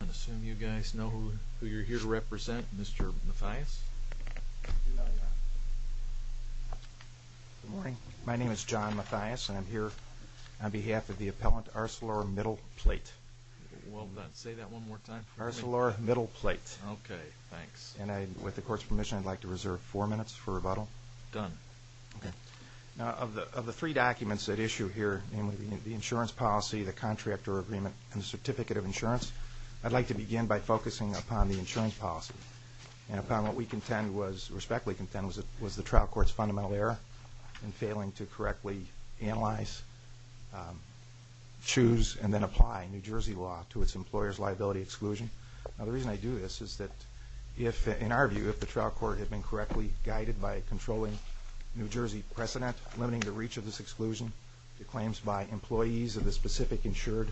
I'm going to assume you guys know who you're here to represent, Mr. Mathias. Good morning. My name is John Mathias and I'm here on behalf of the appellant Arcelormittal Plate. Well, say that one more time for me. Arcelormittal Plate. Okay, thanks. And with the court's permission I'd like to reserve four minutes for rebuttal. Done. Okay. Now of the three documents at issue here, namely the insurance policy, the contractor agreement, and the certificate of insurance, I'd like to begin by focusing upon the insurance policy. And upon what we contend was, respectfully contend, was the trial court's fundamental error in failing to correctly analyze, choose, and then apply New Jersey law to its employer's liability exclusion. Now the reason I do this is that if, in our view, if the trial court had been correctly guided by controlling New Jersey precedent, limiting the reach of this exclusion to claims by employees of the specific insured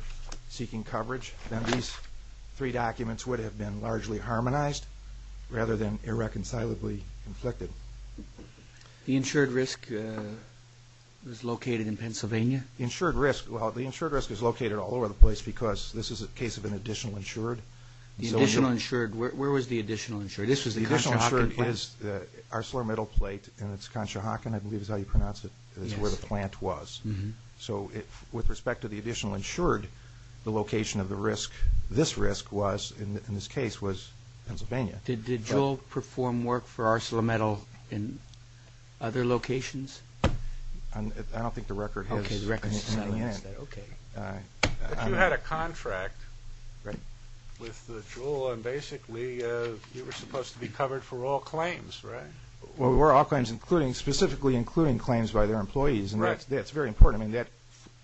seeking coverage, then these three documents would have been largely harmonized rather than irreconcilably inflicted. The insured risk is located in Pennsylvania? The insured risk, well, the insured risk is located all over the place because this is a case of an additional insured. The additional insured, where was the additional insured? This was the Conshohocken. The additional insured is the Arcelormittal Plate and it's Conshohocken, I believe is how you pronounce it, is where the plant was. So with respect to the additional insured, the location of the risk, this risk was, in this case, was Pennsylvania. Did Jewell perform work for Arcelormittal in other locations? I don't think the record has silenced that. But you had a contract with Jewell and basically you were supposed to be covered for all claims, right? Well, we're all claims, specifically including claims by their employees and that's very important. I mean, that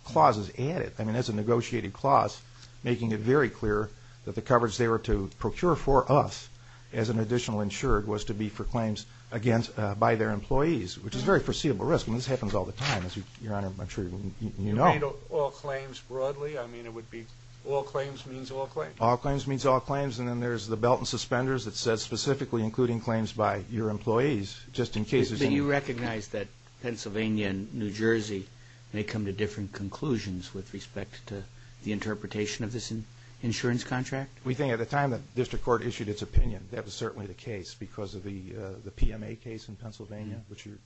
clause is added. I mean, that's a negotiated clause making it very clear that the coverage they were to procure for us as an additional insured was to be for claims by their employees, which is very foreseeable risk. I mean, this happens all the time as Your Honor, I'm sure you know. You mean all claims broadly? I mean, it would be all claims means all claims? All claims means all claims and then there's the belt and suspenders that says specifically including claims by your employees just in case there's... But you recognize that Pennsylvania and New Jersey may come to different conclusions with respect to the interpretation of this insurance contract? We think at the time the District Court issued its opinion, that was certainly the case because of the PMA case in Pennsylvania, which Your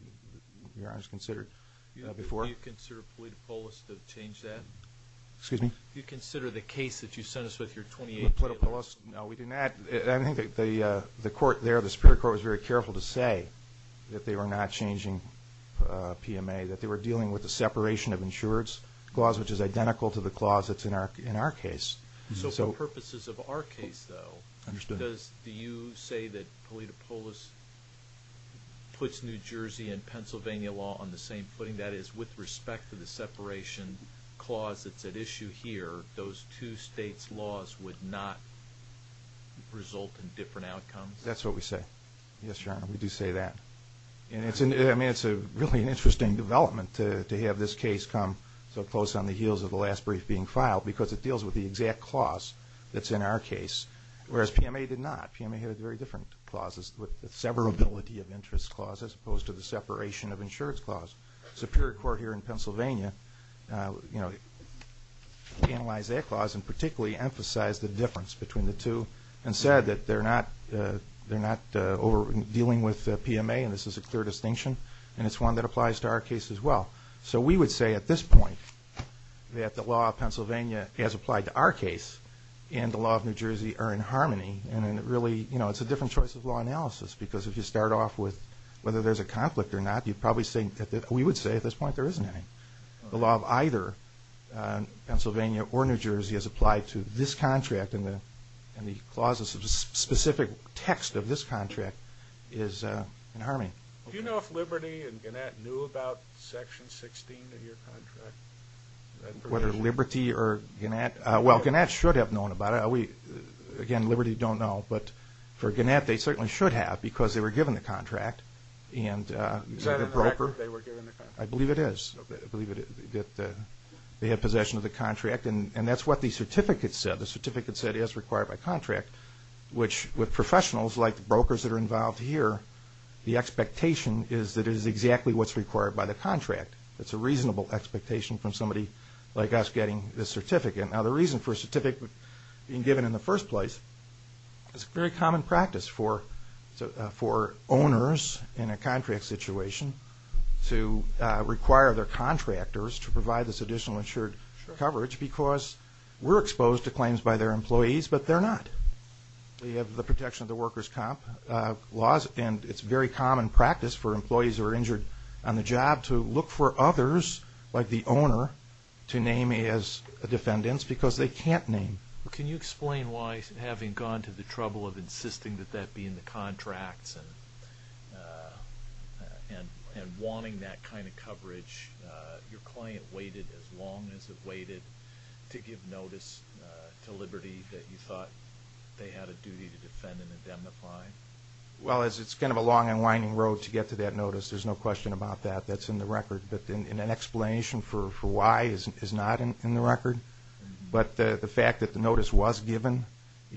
Honor has considered before. Do you consider Politopolis to change that? Excuse me? Do you consider the case that you sent us with your 2018... Politopolis? No, we do not. I think the court there, the District Court, that they were not changing PMA, that they were dealing with the separation of insureds clause, which is identical to the clause that's in our case. So for purposes of our case though, do you say that Politopolis puts New Jersey and Pennsylvania law on the same footing? That is, with respect to the separation clause that's at issue here, those two states' laws would not result in different outcomes? That's what we do say then. I mean, it's really an interesting development to have this case come so close on the heels of the last brief being filed because it deals with the exact clause that's in our case, whereas PMA did not. PMA had very different clauses with severability of interest clauses as opposed to the separation of insureds clause. Superior Court here in Pennsylvania analyzed that clause and particularly emphasized the difference between the two and said that they're not dealing with PMA, and this is a clear distinction, and it's one that applies to our case as well. So we would say at this point that the law of Pennsylvania as applied to our case and the law of New Jersey are in harmony, and it really, you know, it's a different choice of law analysis because if you start off with whether there's a conflict or not, you'd probably say, we would say at this point there isn't any. The law of either Pennsylvania or New Jersey as applied to this contract and the clauses and the specific text of this contract is in harmony. Do you know if Liberty and Gannett knew about Section 16 of your contract? Whether Liberty or Gannett, well, Gannett should have known about it. Again, Liberty don't know, but for Gannett they certainly should have because they were given the contract. Is that in the record that they were given the contract? I believe it is. They had possession of the contract, and that's what the certificate said. The certificate said as required by contract, which with professionals like brokers that are involved here, the expectation is that it is exactly what's required by the contract. It's a reasonable expectation from somebody like us getting this certificate. Now the reason for a certificate being given in the first place, it's a very common practice for owners in a contract situation to require their contractors to provide this additional insured coverage because we're exposed to claims by their employees, but they're not. We have the protection of the workers' comp laws, and it's a very common practice for employees who are injured on the job to look for others like the owner to name as defendants because they can't name. Can you explain why, having gone to the trouble of insisting that that be in the contracts and wanting that kind of coverage, your client waited as long as it waited to give notice to Liberty that you thought they had a duty to defend and indemnify? Well, it's kind of a long and winding road to get to that notice. There's no question about that. That's in the record, but an explanation for why is not in the record, but the fact that the notice was given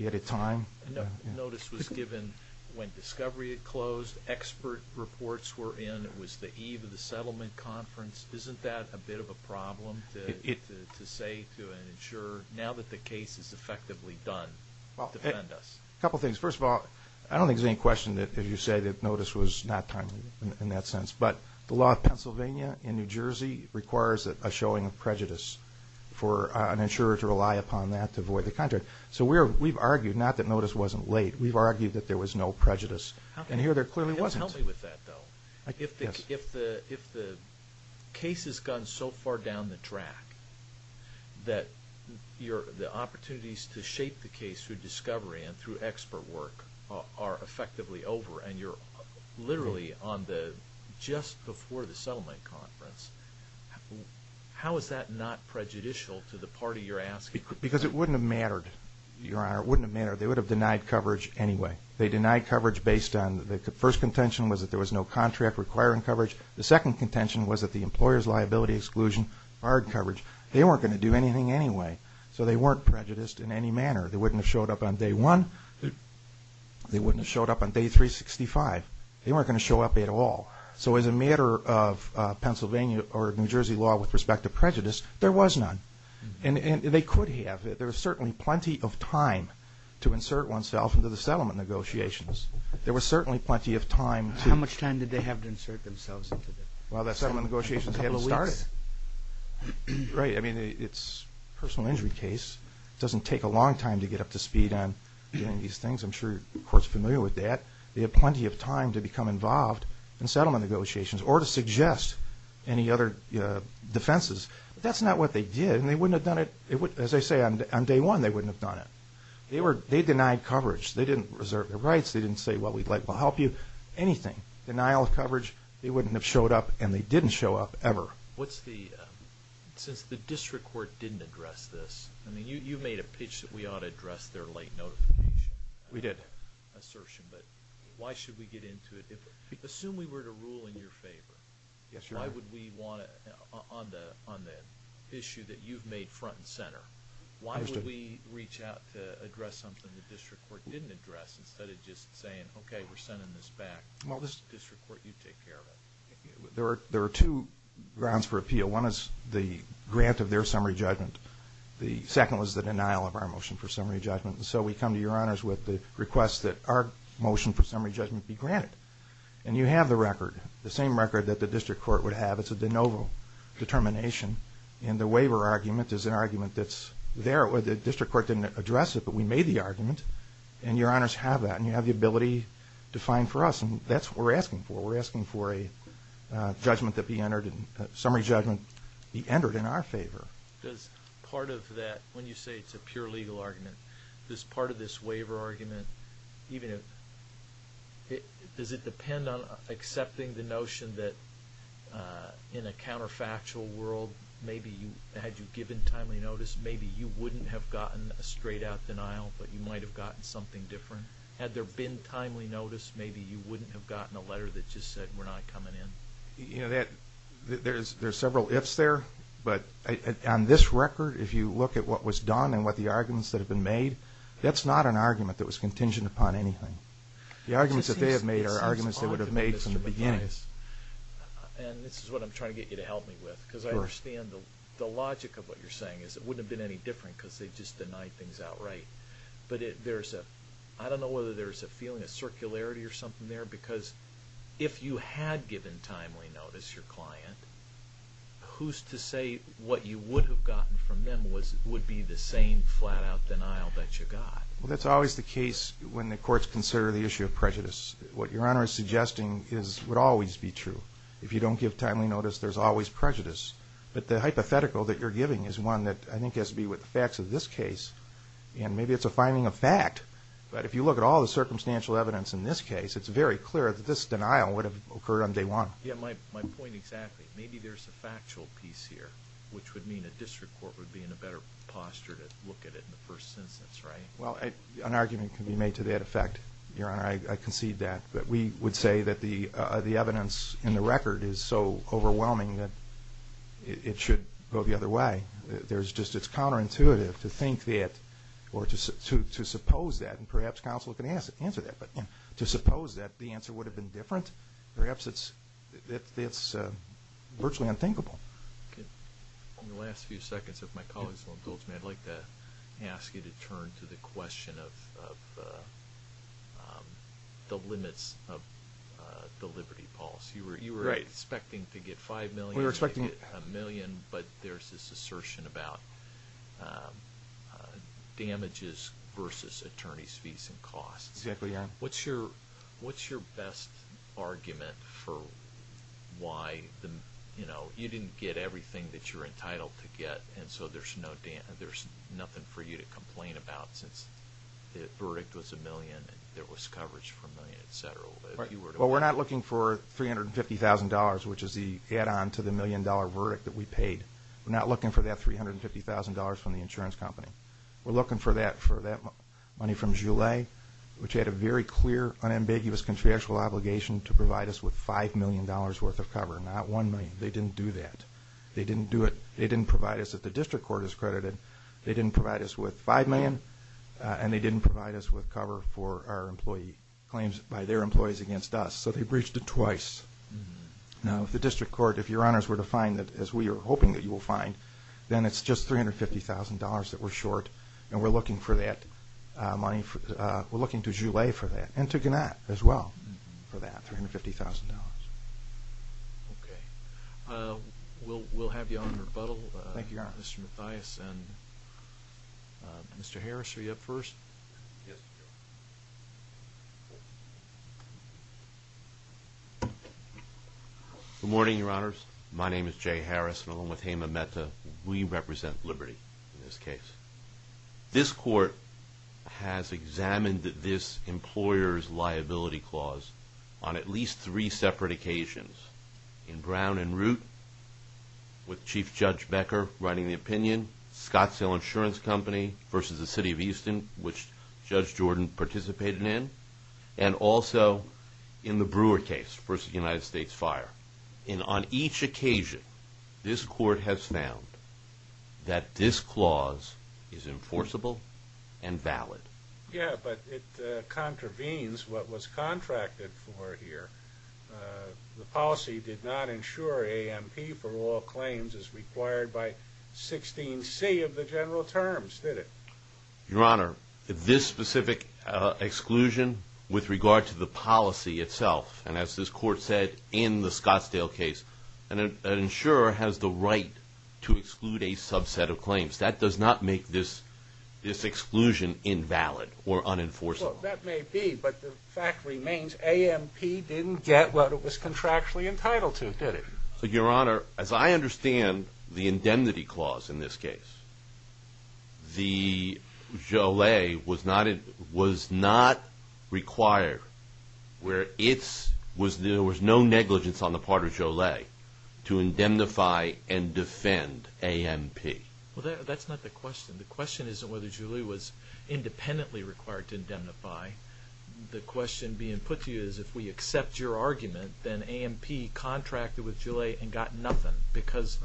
at a time. The notice was given when Discovery had closed, expert reports were in, it was the eve of the settlement conference. Isn't that a bit of a problem to say to an insurer, now that the case is effectively done, defend us? A couple things. First of all, I don't think there's any question that you say that notice was not timely in that sense, but the law of Pennsylvania and New Jersey requires a showing of prejudice for an insurer to rely upon that to avoid the contract. So we've argued not that notice wasn't late, we've argued that there was no prejudice, and here there clearly wasn't. Help me with that, though. If the case has gone so far down the track that the opportunities to shape the case through Discovery and through expert work are effectively over, and you're literally on the just before the settlement conference, how is that not prejudicial to the party you're asking? Because it wouldn't have mattered, Your Honor, it wouldn't have mattered. They would have denied coverage anyway. They denied coverage based on the first contention was that there was no contract requiring coverage. The second contention was that the employer's liability exclusion required coverage. They weren't going to do anything anyway, so they weren't prejudiced in any manner. They wouldn't have showed up on day one. They wouldn't have showed up on day 365. They weren't going to show up at all. So as a matter of Pennsylvania or New Jersey law with respect to prejudice, there was none. How much time did they have to insert themselves into the settlement negotiations? Well, the settlement negotiations hadn't started. Right. I mean, it's a personal injury case. It doesn't take a long time to get up to speed on doing these things. I'm sure you're, of course, familiar with that. They had plenty of time to become involved in settlement negotiations or to suggest any other defenses. But that's not what they did, and they wouldn't have done it. As I say, on day one, they wouldn't have denied coverage. They didn't reserve their rights. They didn't say, well, we'd like to help you. Anything. Denial of coverage, they wouldn't have showed up, and they didn't show up ever. Since the district court didn't address this, I mean, you made a pitch that we ought to address their late notification. We did. Assertion, but why should we get into it? Assume we were to rule in your favor. Why would we want to, on the issue that you've made front and center, why would we reach out to address something the district court didn't address instead of just saying, okay, we're sending this back. This is the district court you take care of it. There are two grounds for appeal. One is the grant of their summary judgment. The second was the denial of our motion for summary judgment. So we come to your honors with the request that our motion for summary judgment be granted. And you have the record, the same record that the district court would have. It's a de novo determination, and the waiver argument is an argument that's there. The district court didn't address it, but we made the argument. And your honors have that, and you have the ability to find for us, and that's what we're asking for. We're asking for a judgment that be entered, a summary judgment be entered in our favor. Does part of that, when you say it's a pure legal argument, does part of this waiver argument, does it depend on accepting the notion that in a counterfactual world, maybe you, had you given timely notice, maybe you wouldn't have gotten a straight out denial, but you might have gotten something different. Had there been timely notice maybe you wouldn't have gotten a letter that just said we're not coming in. There's several ifs there, but on this record, if you look at what was done and what the arguments that have been made, that's not an argument that was contingent upon anything. The arguments that they have made are arguments they would have made from the beginning. And this is what I'm trying to get you to help me with, because I understand the logic of what you're saying is it wouldn't have been any different because they just denied things outright. But there's a I don't know whether there's a feeling of circularity or something there, because if you had given timely notice to your client, who's to say what you would have gotten from them would be the same flat out denial that you got? Well that's always the case when the courts consider the issue of prejudice. What your honor is suggesting would always be true. If you don't give timely notice there's always prejudice. But the hypothetical that you're giving is one that I think has to be with the facts of this case. And maybe it's a finding of fact, but if you look at all the circumstantial evidence in this case it's very clear that this denial would have occurred on day one. Yeah, my point exactly. Maybe there's a factual piece here, which would mean a district court would be in a better posture to look at it in the first instance, right? Well an argument can be made to that effect, your honor. I concede that. But we would say that the evidence in the record is so overwhelming that it should go the other way. There's just, it's counterintuitive to think that, or to suppose that, and perhaps counsel can answer that. But to suppose that the answer would have been different, perhaps it's virtually unthinkable. In the last few seconds if my colleagues won't guilt me, I'd like to ask you to turn to the question of the limits of the liberty policy. You were expecting to get five million, you were expecting a million, but there's this assertion about damages versus attorney's fees and costs. What's your best argument for why, you know, you didn't get everything that you're talking about since the verdict was a million and there was coverage for a million, etc.? Well, we're not looking for $350,000, which is the add-on to the million dollar verdict that we paid. We're not looking for that $350,000 from the insurance company. We're looking for that money from Joulet, which had a very clear, unambiguous, contractual obligation to provide us with five million dollars worth of cover, not one million. They didn't do that. They didn't provide us, if the district court is credited, they didn't provide us with five million and they didn't provide us with cover for our employee claims by their employees against us, so they breached it twice. Now, if the district court, if your honors were to find that, as we are hoping that you will find, then it's just $350,000 that we're short and we're looking for that money, we're looking to Joulet for that and to Gannat as well for that $350,000. Okay. We'll have you on rebuttal. Thank you, your honors. Mr. Mathias and Mr. Harris, are you up first? Good morning, your honors. My name is Jay Harris and along with Hema Mehta, we represent Liberty in this case. This court has examined this employer's liability clause on at least three separate occasions. In Brown and Root, with Chief Judge Becker writing the opinion, Scottsdale Insurance Company versus the City of Easton, which Judge Jordan participated in, and also in the Brewer case versus the United States Fire. And on each occasion, this court has found that this clause is enforceable and valid. Yeah, but it contravenes what was contracted for here. The policy did not insure AMP for all claims as required by 16C of the general terms, did it? Your honor, this specific exclusion with regard to the policy itself, and as this court said in the Scottsdale case, an insurer has the right to exclude a subset of claims. That does not make this exclusion invalid or unenforceable. Well, that may be, but the court didn't get what it was contractually entitled to, did it? Your honor, as I understand the indemnity clause in this case, the JOLA was not required, there was no negligence on the part of JOLA to indemnify and defend AMP. Well, that's not the question. The question isn't whether JOLA was independently required to indemnify. The question being put to you is if we accept your argument, then AMP contracted with JOLA and got nothing, because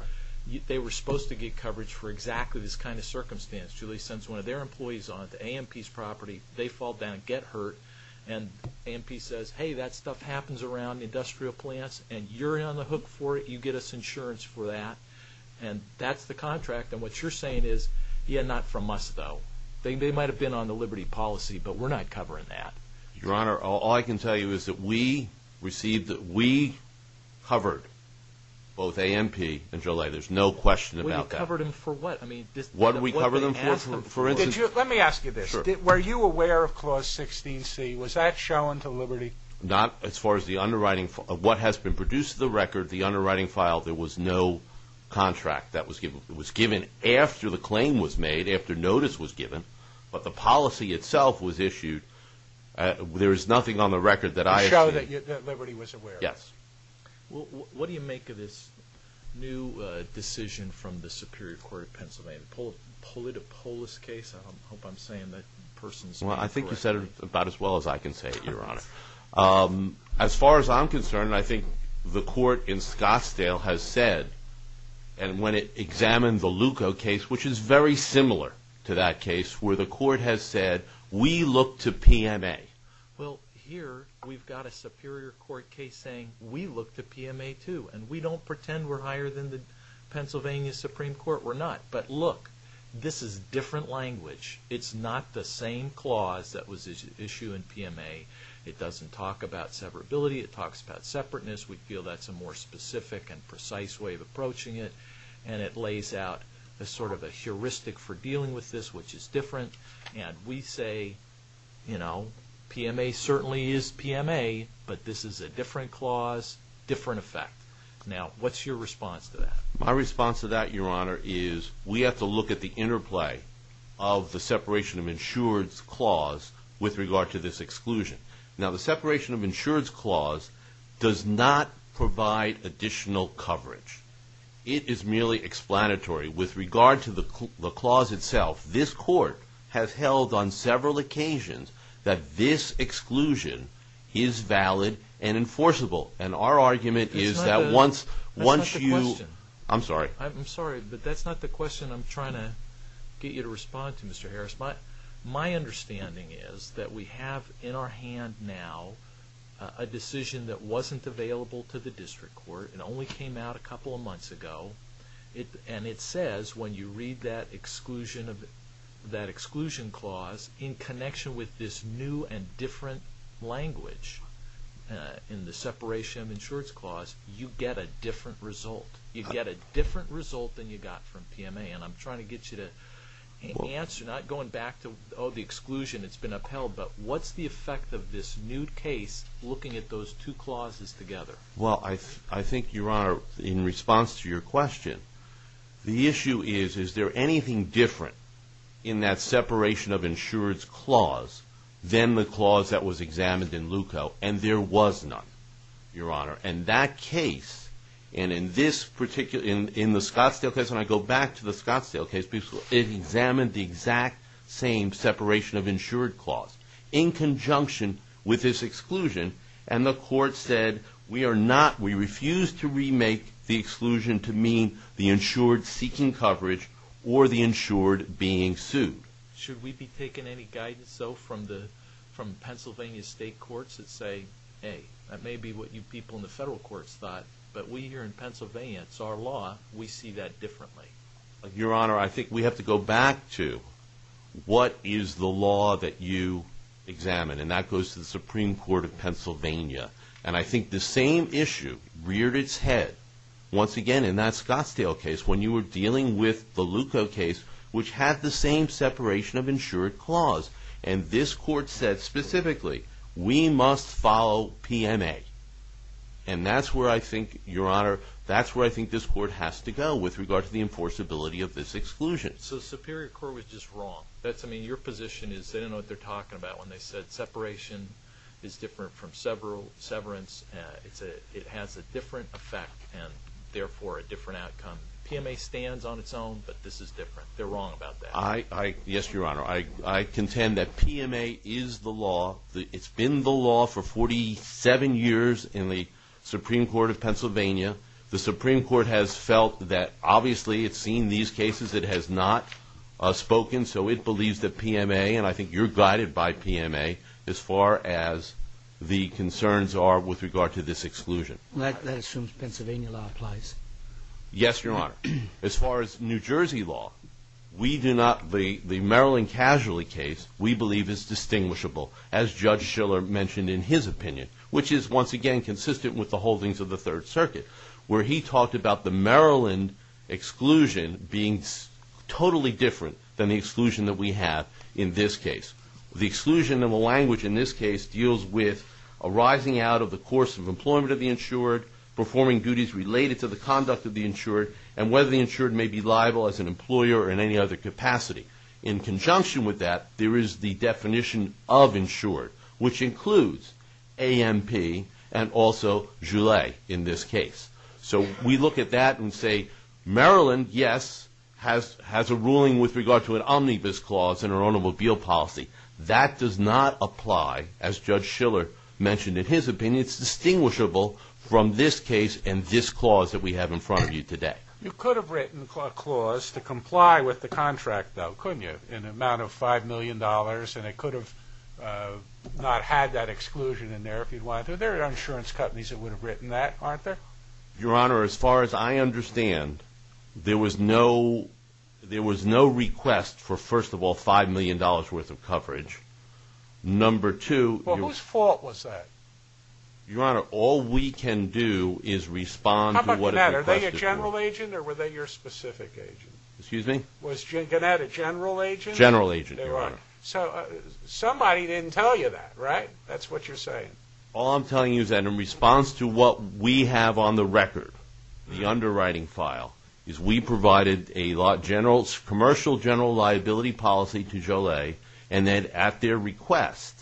they were supposed to get coverage for exactly this kind of circumstance. JOLA sends one of their employees on to AMP's property, they fall down and get hurt, and AMP says, hey, that stuff happens around industrial plants, and you're on the hook for it, you get us insurance for that, and that's the contract, and what you're saying is yeah, not from us, though. They might have been on the liberty policy, but we're not covering that. Your honor, all I can tell you is that we received that we covered both AMP and JOLA. There's no question about that. We covered them for what? What did we cover them for? Let me ask you this. Were you aware of Clause 16c? Was that shown to liberty? Not as far as the underwriting, what has been produced to the record, the underwriting file, there was no contract that was given. It was given after the claim was made, after notice was given, but the policy itself was issued. There is nothing on the record that I have seen. To show that liberty was aware. Yes. What do you make of this new decision from the Superior Court of Pennsylvania, the Pulido Polis case? I hope I'm saying that person's name correctly. Well, I think you said it about as well as I can say it, your honor. As far as I'm concerned, I think the court in Scottsdale has said, and when it examined the Luca case, which is very similar to that case, where the court has said, we look to PMA. Well, here, we've got a Superior Court case saying, we look to PMA, too, and we don't pretend we're higher than the Pennsylvania Supreme Court. We're not. But look, this is different language. It's not the same clause that was issued in PMA. It doesn't talk about severability. It talks about separateness. We feel that's a more specific and precise way of approaching it, and it lays out a sort of a heuristic for dealing with this, which is different. And we say, you know, PMA certainly is PMA, but this is a different clause, different effect. Now, what's your response to that? My response to that, your honor, is we have to look at the interplay of the separation of insurance clause with regard to this exclusion. Now, the separation of insurance clause does not provide additional coverage. It is merely explanatory. With regard to the clause itself, this court has held on several occasions that this exclusion is valid and enforceable. And our argument is that once you... That's not the question. I'm sorry. I'm sorry, but that's not the question I'm trying to get you to respond to, Mr. Harris. My understanding is that we have in our hand now a decision that wasn't available to the public a couple of months ago, and it says when you read that exclusion clause, in connection with this new and different language in the separation of insurance clause, you get a different result. You get a different result than you got from PMA. And I'm trying to get you to answer, not going back to, oh, the exclusion, it's been upheld, but what's the effect of this new case looking at those two clauses together? Well, I think, Your Honor, in response to your question, the issue is, is there anything different in that separation of insurance clause than the clause that was examined in LUCO, and there was none, Your Honor. And that case in the Scottsdale case, and I go back to the Scottsdale case, it examined the exact same separation of insurance clause in conjunction with this exclusion, and the court said, we are not, we refuse to remake the exclusion to mean the insured seeking coverage or the insured being sued. Should we be taking any guidance, though, from Pennsylvania state courts that say, hey, that may be what you people in the federal courts thought, but we here in Pennsylvania, it's our law, we see that differently. Your Honor, I think we have to go back to, what is the law that you examine? And that goes to the Supreme Court of Pennsylvania. And I think the same issue reared its head, once again, in that Scottsdale case, when you were dealing with the LUCO case, which had the same separation of insured clause, and this court said specifically, we must follow PMA. And that's where I think, Your Honor, that's where I think this court has to go with regard to the enforceability of this exclusion. So the Superior Court was just wrong. That's, I mean, your position is they don't know what they're talking about when they said separation is different from severance. It has a different effect, and therefore, a different outcome. PMA stands on its own, but this is different. They're wrong about that. Yes, Your Honor. I contend that PMA is the law. It's been the law for 47 years in the Supreme Court of Pennsylvania. The Supreme Court has felt that, obviously, it's seen these cases. It has not spoken, so it believes that PMA, and I think you're guided by PMA, as far as the concerns are with regard to this exclusion. That assumes Pennsylvania law applies. Yes, Your Honor. As far as New Jersey law, we do not, the Maryland Casualty case, we believe is distinguishable, as Judge Schiller mentioned in his opinion, which is, once again, consistent with the holdings of the Third Circuit, where he talked about the Maryland exclusion being totally different than the exclusion that we have in this case. The exclusion of a language, in this case, deals with arising out of the course of employment of the insured, performing duties related to the conduct of the insured, and whether the insured may be liable as an employer or in any other capacity. In conjunction with that, there is the definition of insured, which includes AMP and also JULE in this case. So we look at that and say, Maryland, yes, has a ruling with regard to an omnibus clause in our ownable bill policy. That does not apply as Judge Schiller mentioned in his opinion. It's distinguishable from this case and this clause that we have in front of you today. You could have written a clause to comply with the contract, though, couldn't you, in the amount of $5 million, and it could have not had that exclusion in there if you wanted to. There are insurance companies that would have written that, aren't there? Your Honor, as far as I understand, there was no request for, first of all, $5 million worth of coverage. Number two... Well, whose fault was that? Your Honor, all we can do is respond... How about Gannett? Are they your general agent, or were they your specific agent? Excuse me? Was Gannett a general agent? General agent, Your Honor. So, somebody didn't tell you that, right? That's what you're saying. All I'm telling you is that in response to what we have on the record, the underwriting file, is we provided a commercial general liability policy to Joliet, and then at their request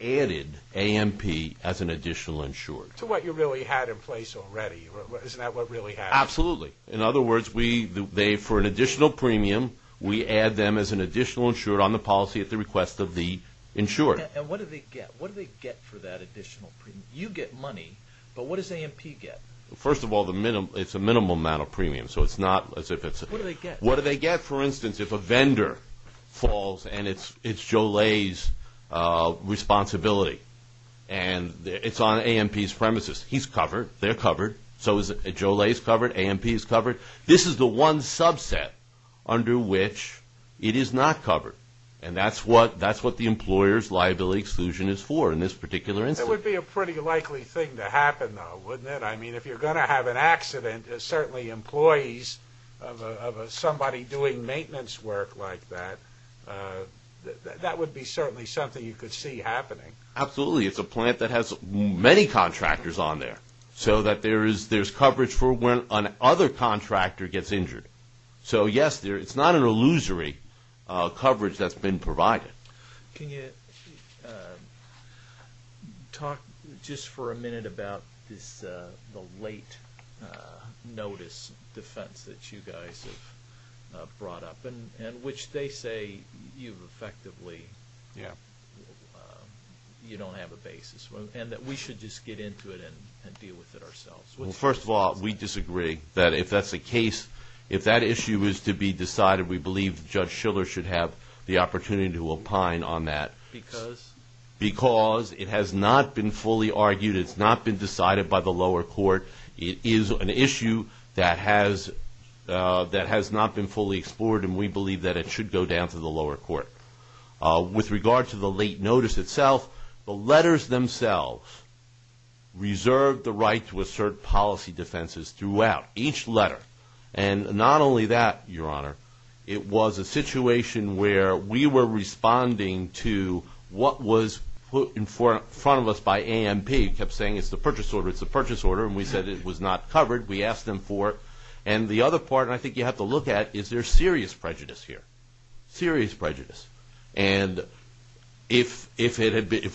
added AMP as an additional insured. To what you really had in place already. Isn't that what really happened? Absolutely. In other words, they, for an additional premium, we add them as an additional insured on the policy at the request of the insured. And what do they get? You get money, but what does AMP get? First of all, it's a minimal amount of premium. What do they get, for instance, if a vendor falls, and it's Joliet's responsibility, and it's on AMP's premises. He's covered. They're covered. So is Joliet covered. AMP is covered. This is the one subset under which it is not covered. And that's what the employer's responsible for in this particular instance. It would be a pretty likely thing to happen, though, wouldn't it? I mean, if you're going to have an accident, certainly employees of somebody doing maintenance work like that, that would be certainly something you could see happening. Absolutely. It's a plant that has many contractors on there, so that there's coverage for when another contractor gets injured. So yes, it's not an illusory coverage that's been provided. Can you talk just for a minute about the late notice defense that you guys have brought up, in which they say you've effectively you don't have a basis, and that we should just get into it and deal with it ourselves? Well, first of all, we disagree. If that's the case, if that issue is to be decided, we believe Judge Schiller should have the opportunity to opine on that. Because? Because it has not been fully argued. It's not been decided by the lower court. It is an issue that has not been fully explored, and we believe that it should go down to the lower court. With regard to the late notice itself, the letters themselves reserve the right to assert policy defenses throughout each letter. And not only that, Your Honor, it was a situation where we were responding to what was put in front of us by AMP, kept saying it's the purchase order, it's the purchase order, and we said it was not covered. We asked them for it. And the other part, and I think you have to look at, is there serious prejudice here? Serious prejudice. And if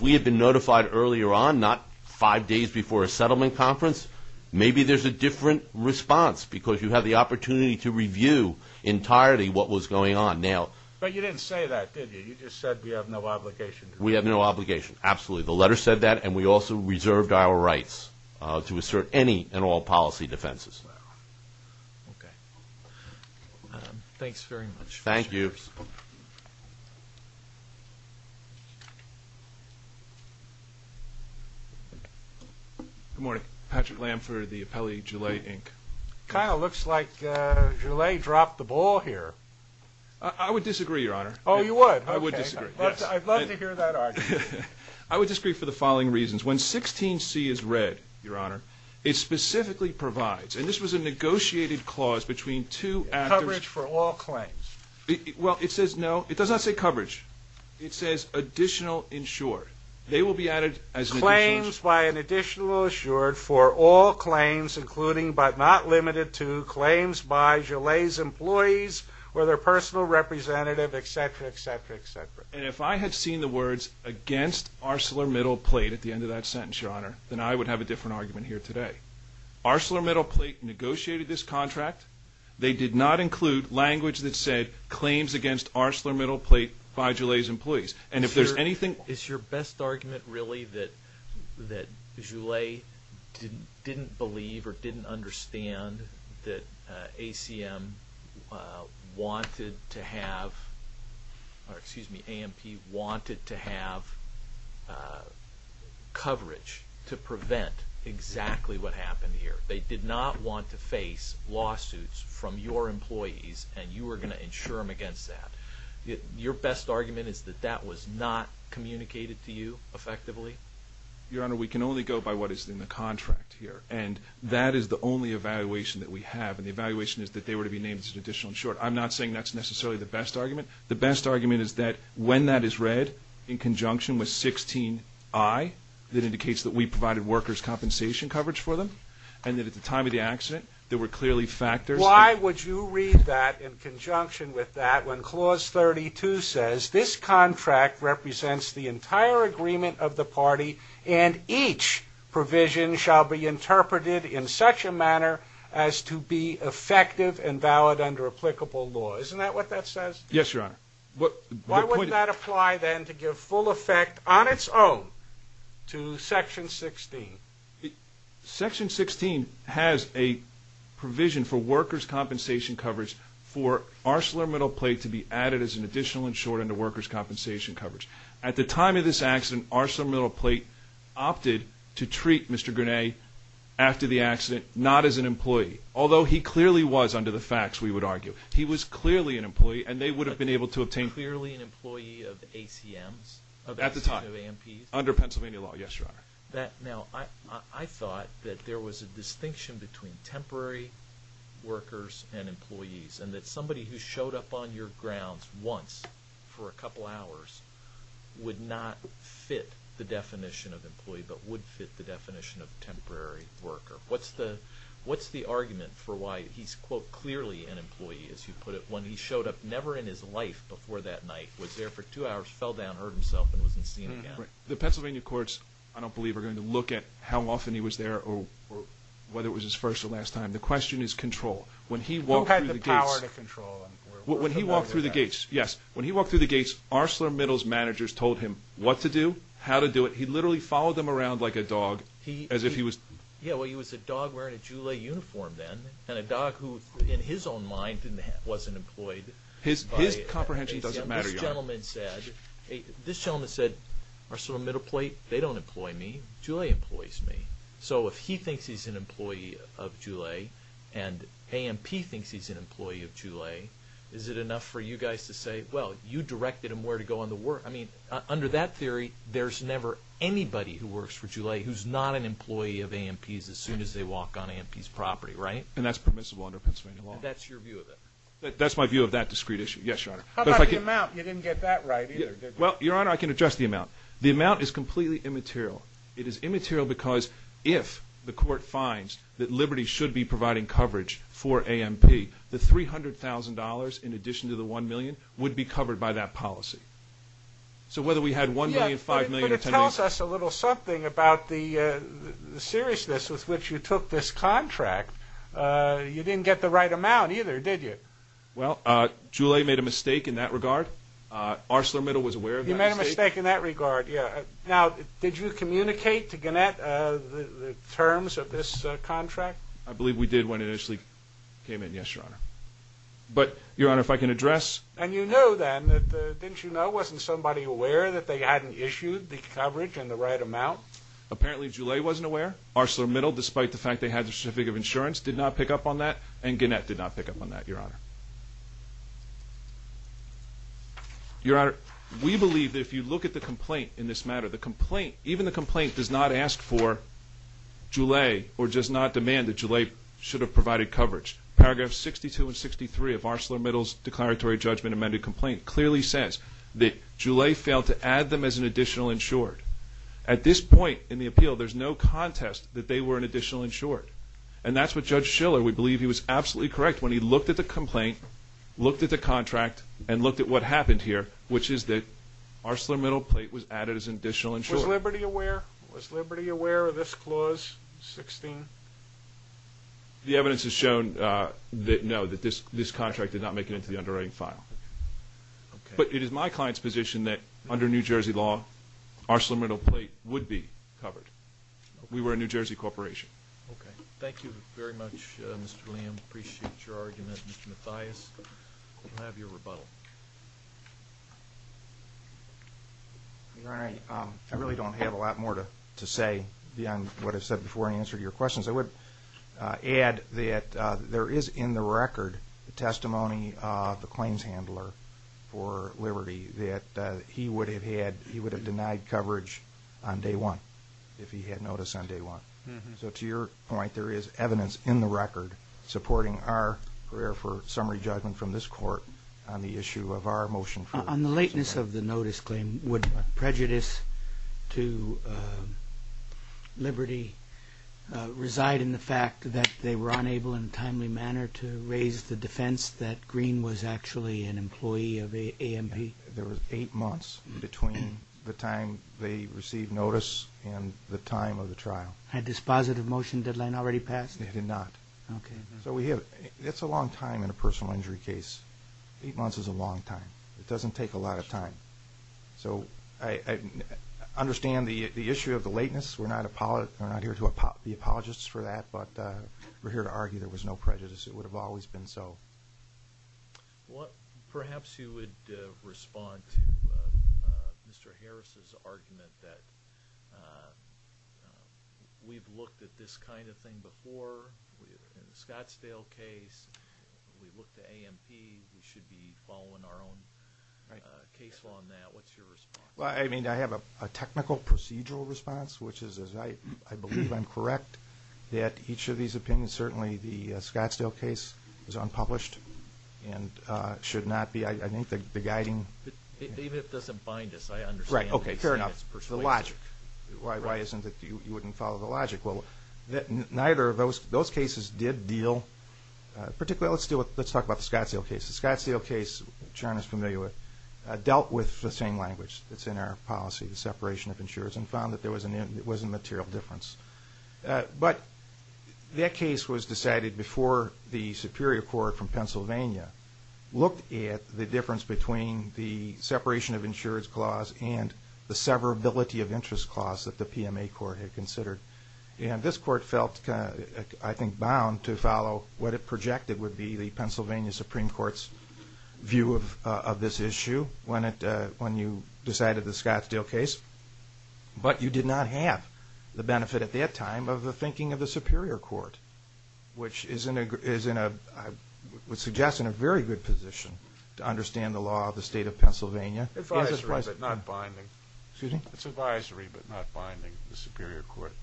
we had been notified earlier on, not five days before a settlement conference, maybe there's a different response, because you have the entirety of what was going on now. But you didn't say that, did you? You just said we have no obligation. We have no obligation. Absolutely. The letter said that, and we also reserved our rights to assert any and all policy defenses. Okay. Thanks very much. Thank you. Good morning. Patrick Lam for the appellee, Gillet, Inc. It kind of looks like Gillet dropped the ball here. I would disagree, Your Honor. Oh, you would? I would disagree, yes. I'd love to hear that argument. I would disagree for the following reasons. When 16c is read, Your Honor, it specifically provides, and this was a negotiated clause between two actors. Coverage for all claims. Well, it says no. It does not say coverage. It says additional insured. They will be added as an additional insured. Claims by an additional insured for all claims, including but not limited to claims by Gillet's employees or their personal representative, etc., etc., etc. And if I had seen the words against ArcelorMittal Plate at the end of that sentence, Your Honor, then I would have a different argument here today. ArcelorMittal Plate negotiated this contract. They did not include language that said claims against ArcelorMittal Plate by Gillet's employees. And if there's anything... Is your best argument really that Gillet didn't believe or didn't understand that ACM wanted to have, or excuse me, AMP wanted to have coverage to prevent exactly what happened here. They did not want to face lawsuits from your employees, and you were going to insure them against that. Your best argument is that that was not communicated to you effectively? Your Honor, we can only go by what is in the contract here, and that is the only evaluation that we have, and the evaluation is that they were to be named as an additional insured. I'm not saying that's necessarily the best argument. The best argument is that when that is read in conjunction with 16i, that indicates that we provided workers compensation coverage for them, and that at the time of the accident, there were clearly factors... Why would you read that in conjunction with that when Clause 32 says, this contract represents the entire agreement of the party, and each provision shall be interpreted in such a manner as to be effective and valid under applicable law. Isn't that what that says? Yes, Your Honor. Why wouldn't that apply then to give full effect on its own to Section 16? Section 16 has a provision for workers compensation coverage for ArcelorMittal plate to be added as an additional insured under workers compensation coverage. At the time of this accident, ArcelorMittal plate opted to treat Mr. Grenet after the accident, not as an employee, although he clearly was under the facts, we would argue. He was clearly an employee, and they would have been able to obtain... Clearly an employee of ACM's? At the time. Under Pennsylvania law, yes, Your Honor. Now, I thought that there was a distinction between temporary workers and employees, and that somebody who showed up on your grounds once for a couple hours would not fit the definition of employee, but would fit the definition of temporary worker. What's the argument for why he's, quote, clearly an employee, as you put it, when he showed up never in his life before that night, was there for two hours, fell down, hurt himself, and wasn't seen again? The Pennsylvania courts, I don't believe, are going to look at how often he was there or whether it was his first or last time. The question is control. When he walked through the gates... He had the power to control. When he walked through the gates, yes. When he walked through the gates, ArcelorMittal's managers told him what to do, how to do it. He literally followed them around like a dog, as if he was... Yeah, well, he was a dog wearing a Joulet uniform then, and a dog who, in his own mind, wasn't employed by ACM. His comprehension doesn't matter, Your Honor. This gentleman said, ArcelorMittal, they don't employ me. Joulet employs me. So if he thinks he's an employee of Joulet and AMP thinks he's an employee of Joulet, is it enough for you guys to say, well, you directed him where to go on the work? I mean, under that theory, there's never anybody who works for Joulet who's not an employee of AMP's as soon as they walk on AMP's property, right? And that's permissible under Pennsylvania law. And that's your view of it? That's my view of that discrete issue. Yes, Your Honor. How about the amount? You didn't get that right either, did you? Well, Your Honor, I can address the amount. The amount is completely immaterial. It is immaterial because if the court finds that Liberty should be providing coverage for AMP, the $300,000 in addition to the $1 million would be covered by that policy. So whether we had $1 million, $5 million, or $10 million... Yeah, but it tells us a little something about the seriousness with which you took this contract. You didn't get the right amount either, did you? Well, Joulet made a mistake in that regard. ArcelorMittal was aware of that mistake. He made a mistake in that regard, yeah. Now, did you communicate to Gannett the terms of this contract? I believe we did when it initially came in, yes, Your Honor. But, Your Honor, if I can address... And you know then that, didn't you know, wasn't somebody aware that they hadn't issued the coverage in the right amount? Apparently, Joulet wasn't aware. ArcelorMittal, despite the fact they had the certificate of insurance, did not pick up on that. And Gannett did not pick up on that, Your Honor. Your Honor, we believe that if you look at the complaint in this matter, the complaint even the complaint does not ask for Joulet or does not demand that Joulet should have provided coverage. Paragraphs 62 and 63 of ArcelorMittal's declaratory judgment amended complaint clearly says that Joulet failed to add them as an additional insured. At this point in the appeal, there's no contest that they were an additional insured. And that's what Judge Schiller, we believe he was absolutely correct when he looked at the complaint, looked at the contract, and looked at what happened here, which is that ArcelorMittal plate was added as an additional insured. Was Liberty aware of this clause 16? The evidence has shown that no, that this contract did not make it into the underwriting file. But it is my client's position that under New Jersey law ArcelorMittal plate would be covered. We were a New Jersey corporation. Okay. Thank you very much, Mr. William. Appreciate your argument. Mr. Mathias, I'll have your rebuttal. Your Honor, I really don't have a lot more to say beyond what I said before in answer to your questions. I would add that there is in the record the testimony of the claims handler for Liberty that he would have denied coverage on day one, if he had notice on day one. So to your point, there is evidence in the record supporting our prayer for summary judgment from this Court on the issue of our motion for prejudice to Liberty reside in the fact that they were unable in a timely manner to raise the defense that Green was actually an employee of AMP? There was eight months between the time they received notice and the time of the trial. Had this positive motion deadline already passed? It had not. Okay. So we have, it's a long time in a personal injury case. Eight months is a long time. It doesn't take a lot of time. So I understand the issue of the lateness. We're not here to be apologists for that, but we're here to argue there was no prejudice. It would have always been so. Perhaps you would respond to Mr. Harris' argument that we've looked at this kind of thing before. In the Scottsdale case, we looked at AMP. We should be our own case on that. What's your response? I have a technical procedural response, which is I believe I'm correct that each of these opinions, certainly the Scottsdale case is unpublished and should not be. I think the guiding Even if it doesn't bind us, I understand. Fair enough. The logic. Why isn't it that you wouldn't follow the logic? Neither of those cases did deal, particularly, let's talk about the Scottsdale case. The Scottsdale case, John is familiar with, dealt with the same language that's in our policy, the separation of insurers, and found that there was a material difference. But that case was decided before the Superior Court from Pennsylvania looked at the difference between the separation of insurers clause and the severability of interest clause that the PMA court had considered. And this court felt, I think, bound to follow what it projected would be the Pennsylvania Supreme Court's view of this issue when you decided the Scottsdale case. But you did not have the benefit at that time of the thinking of the Superior Court, which is, I would suggest, in a very good position to understand the law of the state of Pennsylvania. It's advisory, but not binding. The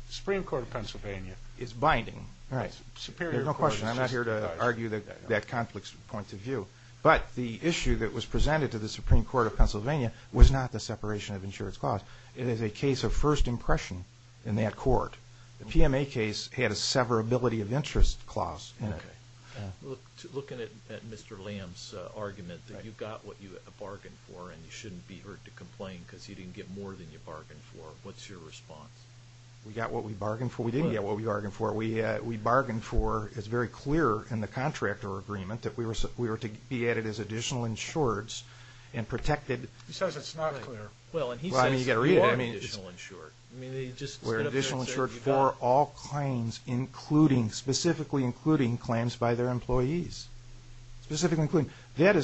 Supreme Court of Pennsylvania is binding. There's no question. I'm not here to argue that conflict's point of view. But the issue that was presented to the Supreme Court of Pennsylvania was not the separation of insurers clause. It is a case of first impression in that court. The PMA case had a severability of interest clause in it. Looking at Mr. Lamb's argument that you got what you bargained for and you shouldn't be hurt to complain because you didn't get more than you bargained for, what's your response? We got what we bargained for. We didn't get what we bargained for. We bargained for it's very clear in the contractor agreement that we were to be added as additional insureds and protected. He says it's not clear. Well, and he says you are additional insured. We're additional insured for all claims including, specifically including, claims by their employees. Specifically including. I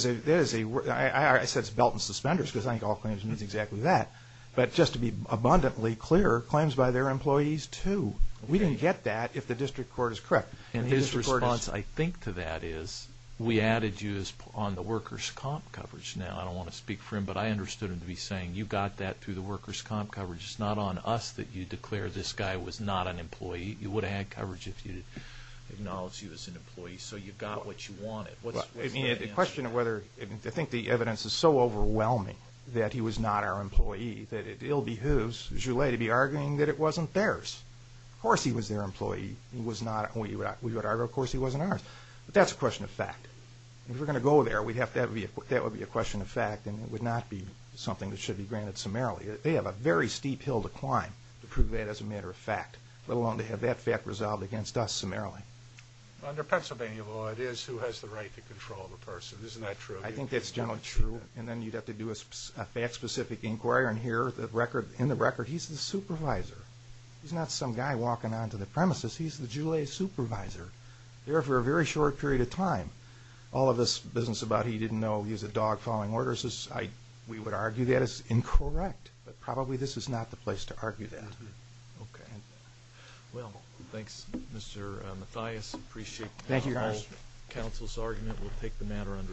said it's belt and suspenders because I think all claims means exactly that. But just to be abundantly clear, claims by their employees too. We didn't get that if the district court is correct. And his response, I think, to that is we added you on the workers' comp coverage. Now, I don't want to speak for him, but I understood him to be saying you got that through the workers' comp coverage. It's not on us that you declare this guy was not an employee. You would have had coverage if you had acknowledged he was an employee. So you got what you wanted. I mean, the question of whether, I think the evidence is so overwhelming that he was not our employee that it ill behooves Joulet to be arguing that it wasn't theirs. Of course he was their employee. Of course he wasn't ours. But that's a question of fact. If we're going to go there, that would be a question of fact and it would not be something that should be granted summarily. They have a very steep hill to climb to prove that as a matter of fact, let alone to have that fact resolved against us summarily. Under Pennsylvania law, it is who has the right to control the person. Isn't that true? I think that's generally true. And then you'd have to do a fact-specific inquiry and here, in the record, he's the supervisor. He's not some guy walking onto the premises. He's the Joulet supervisor. There for a very short period of time. All of this business about he didn't know he was a dog following orders, we would argue that is incorrect. But probably this is not the place to argue that. Well, thanks Mr. Mathias. I appreciate the whole council's argument. We'll take the matter under advisement.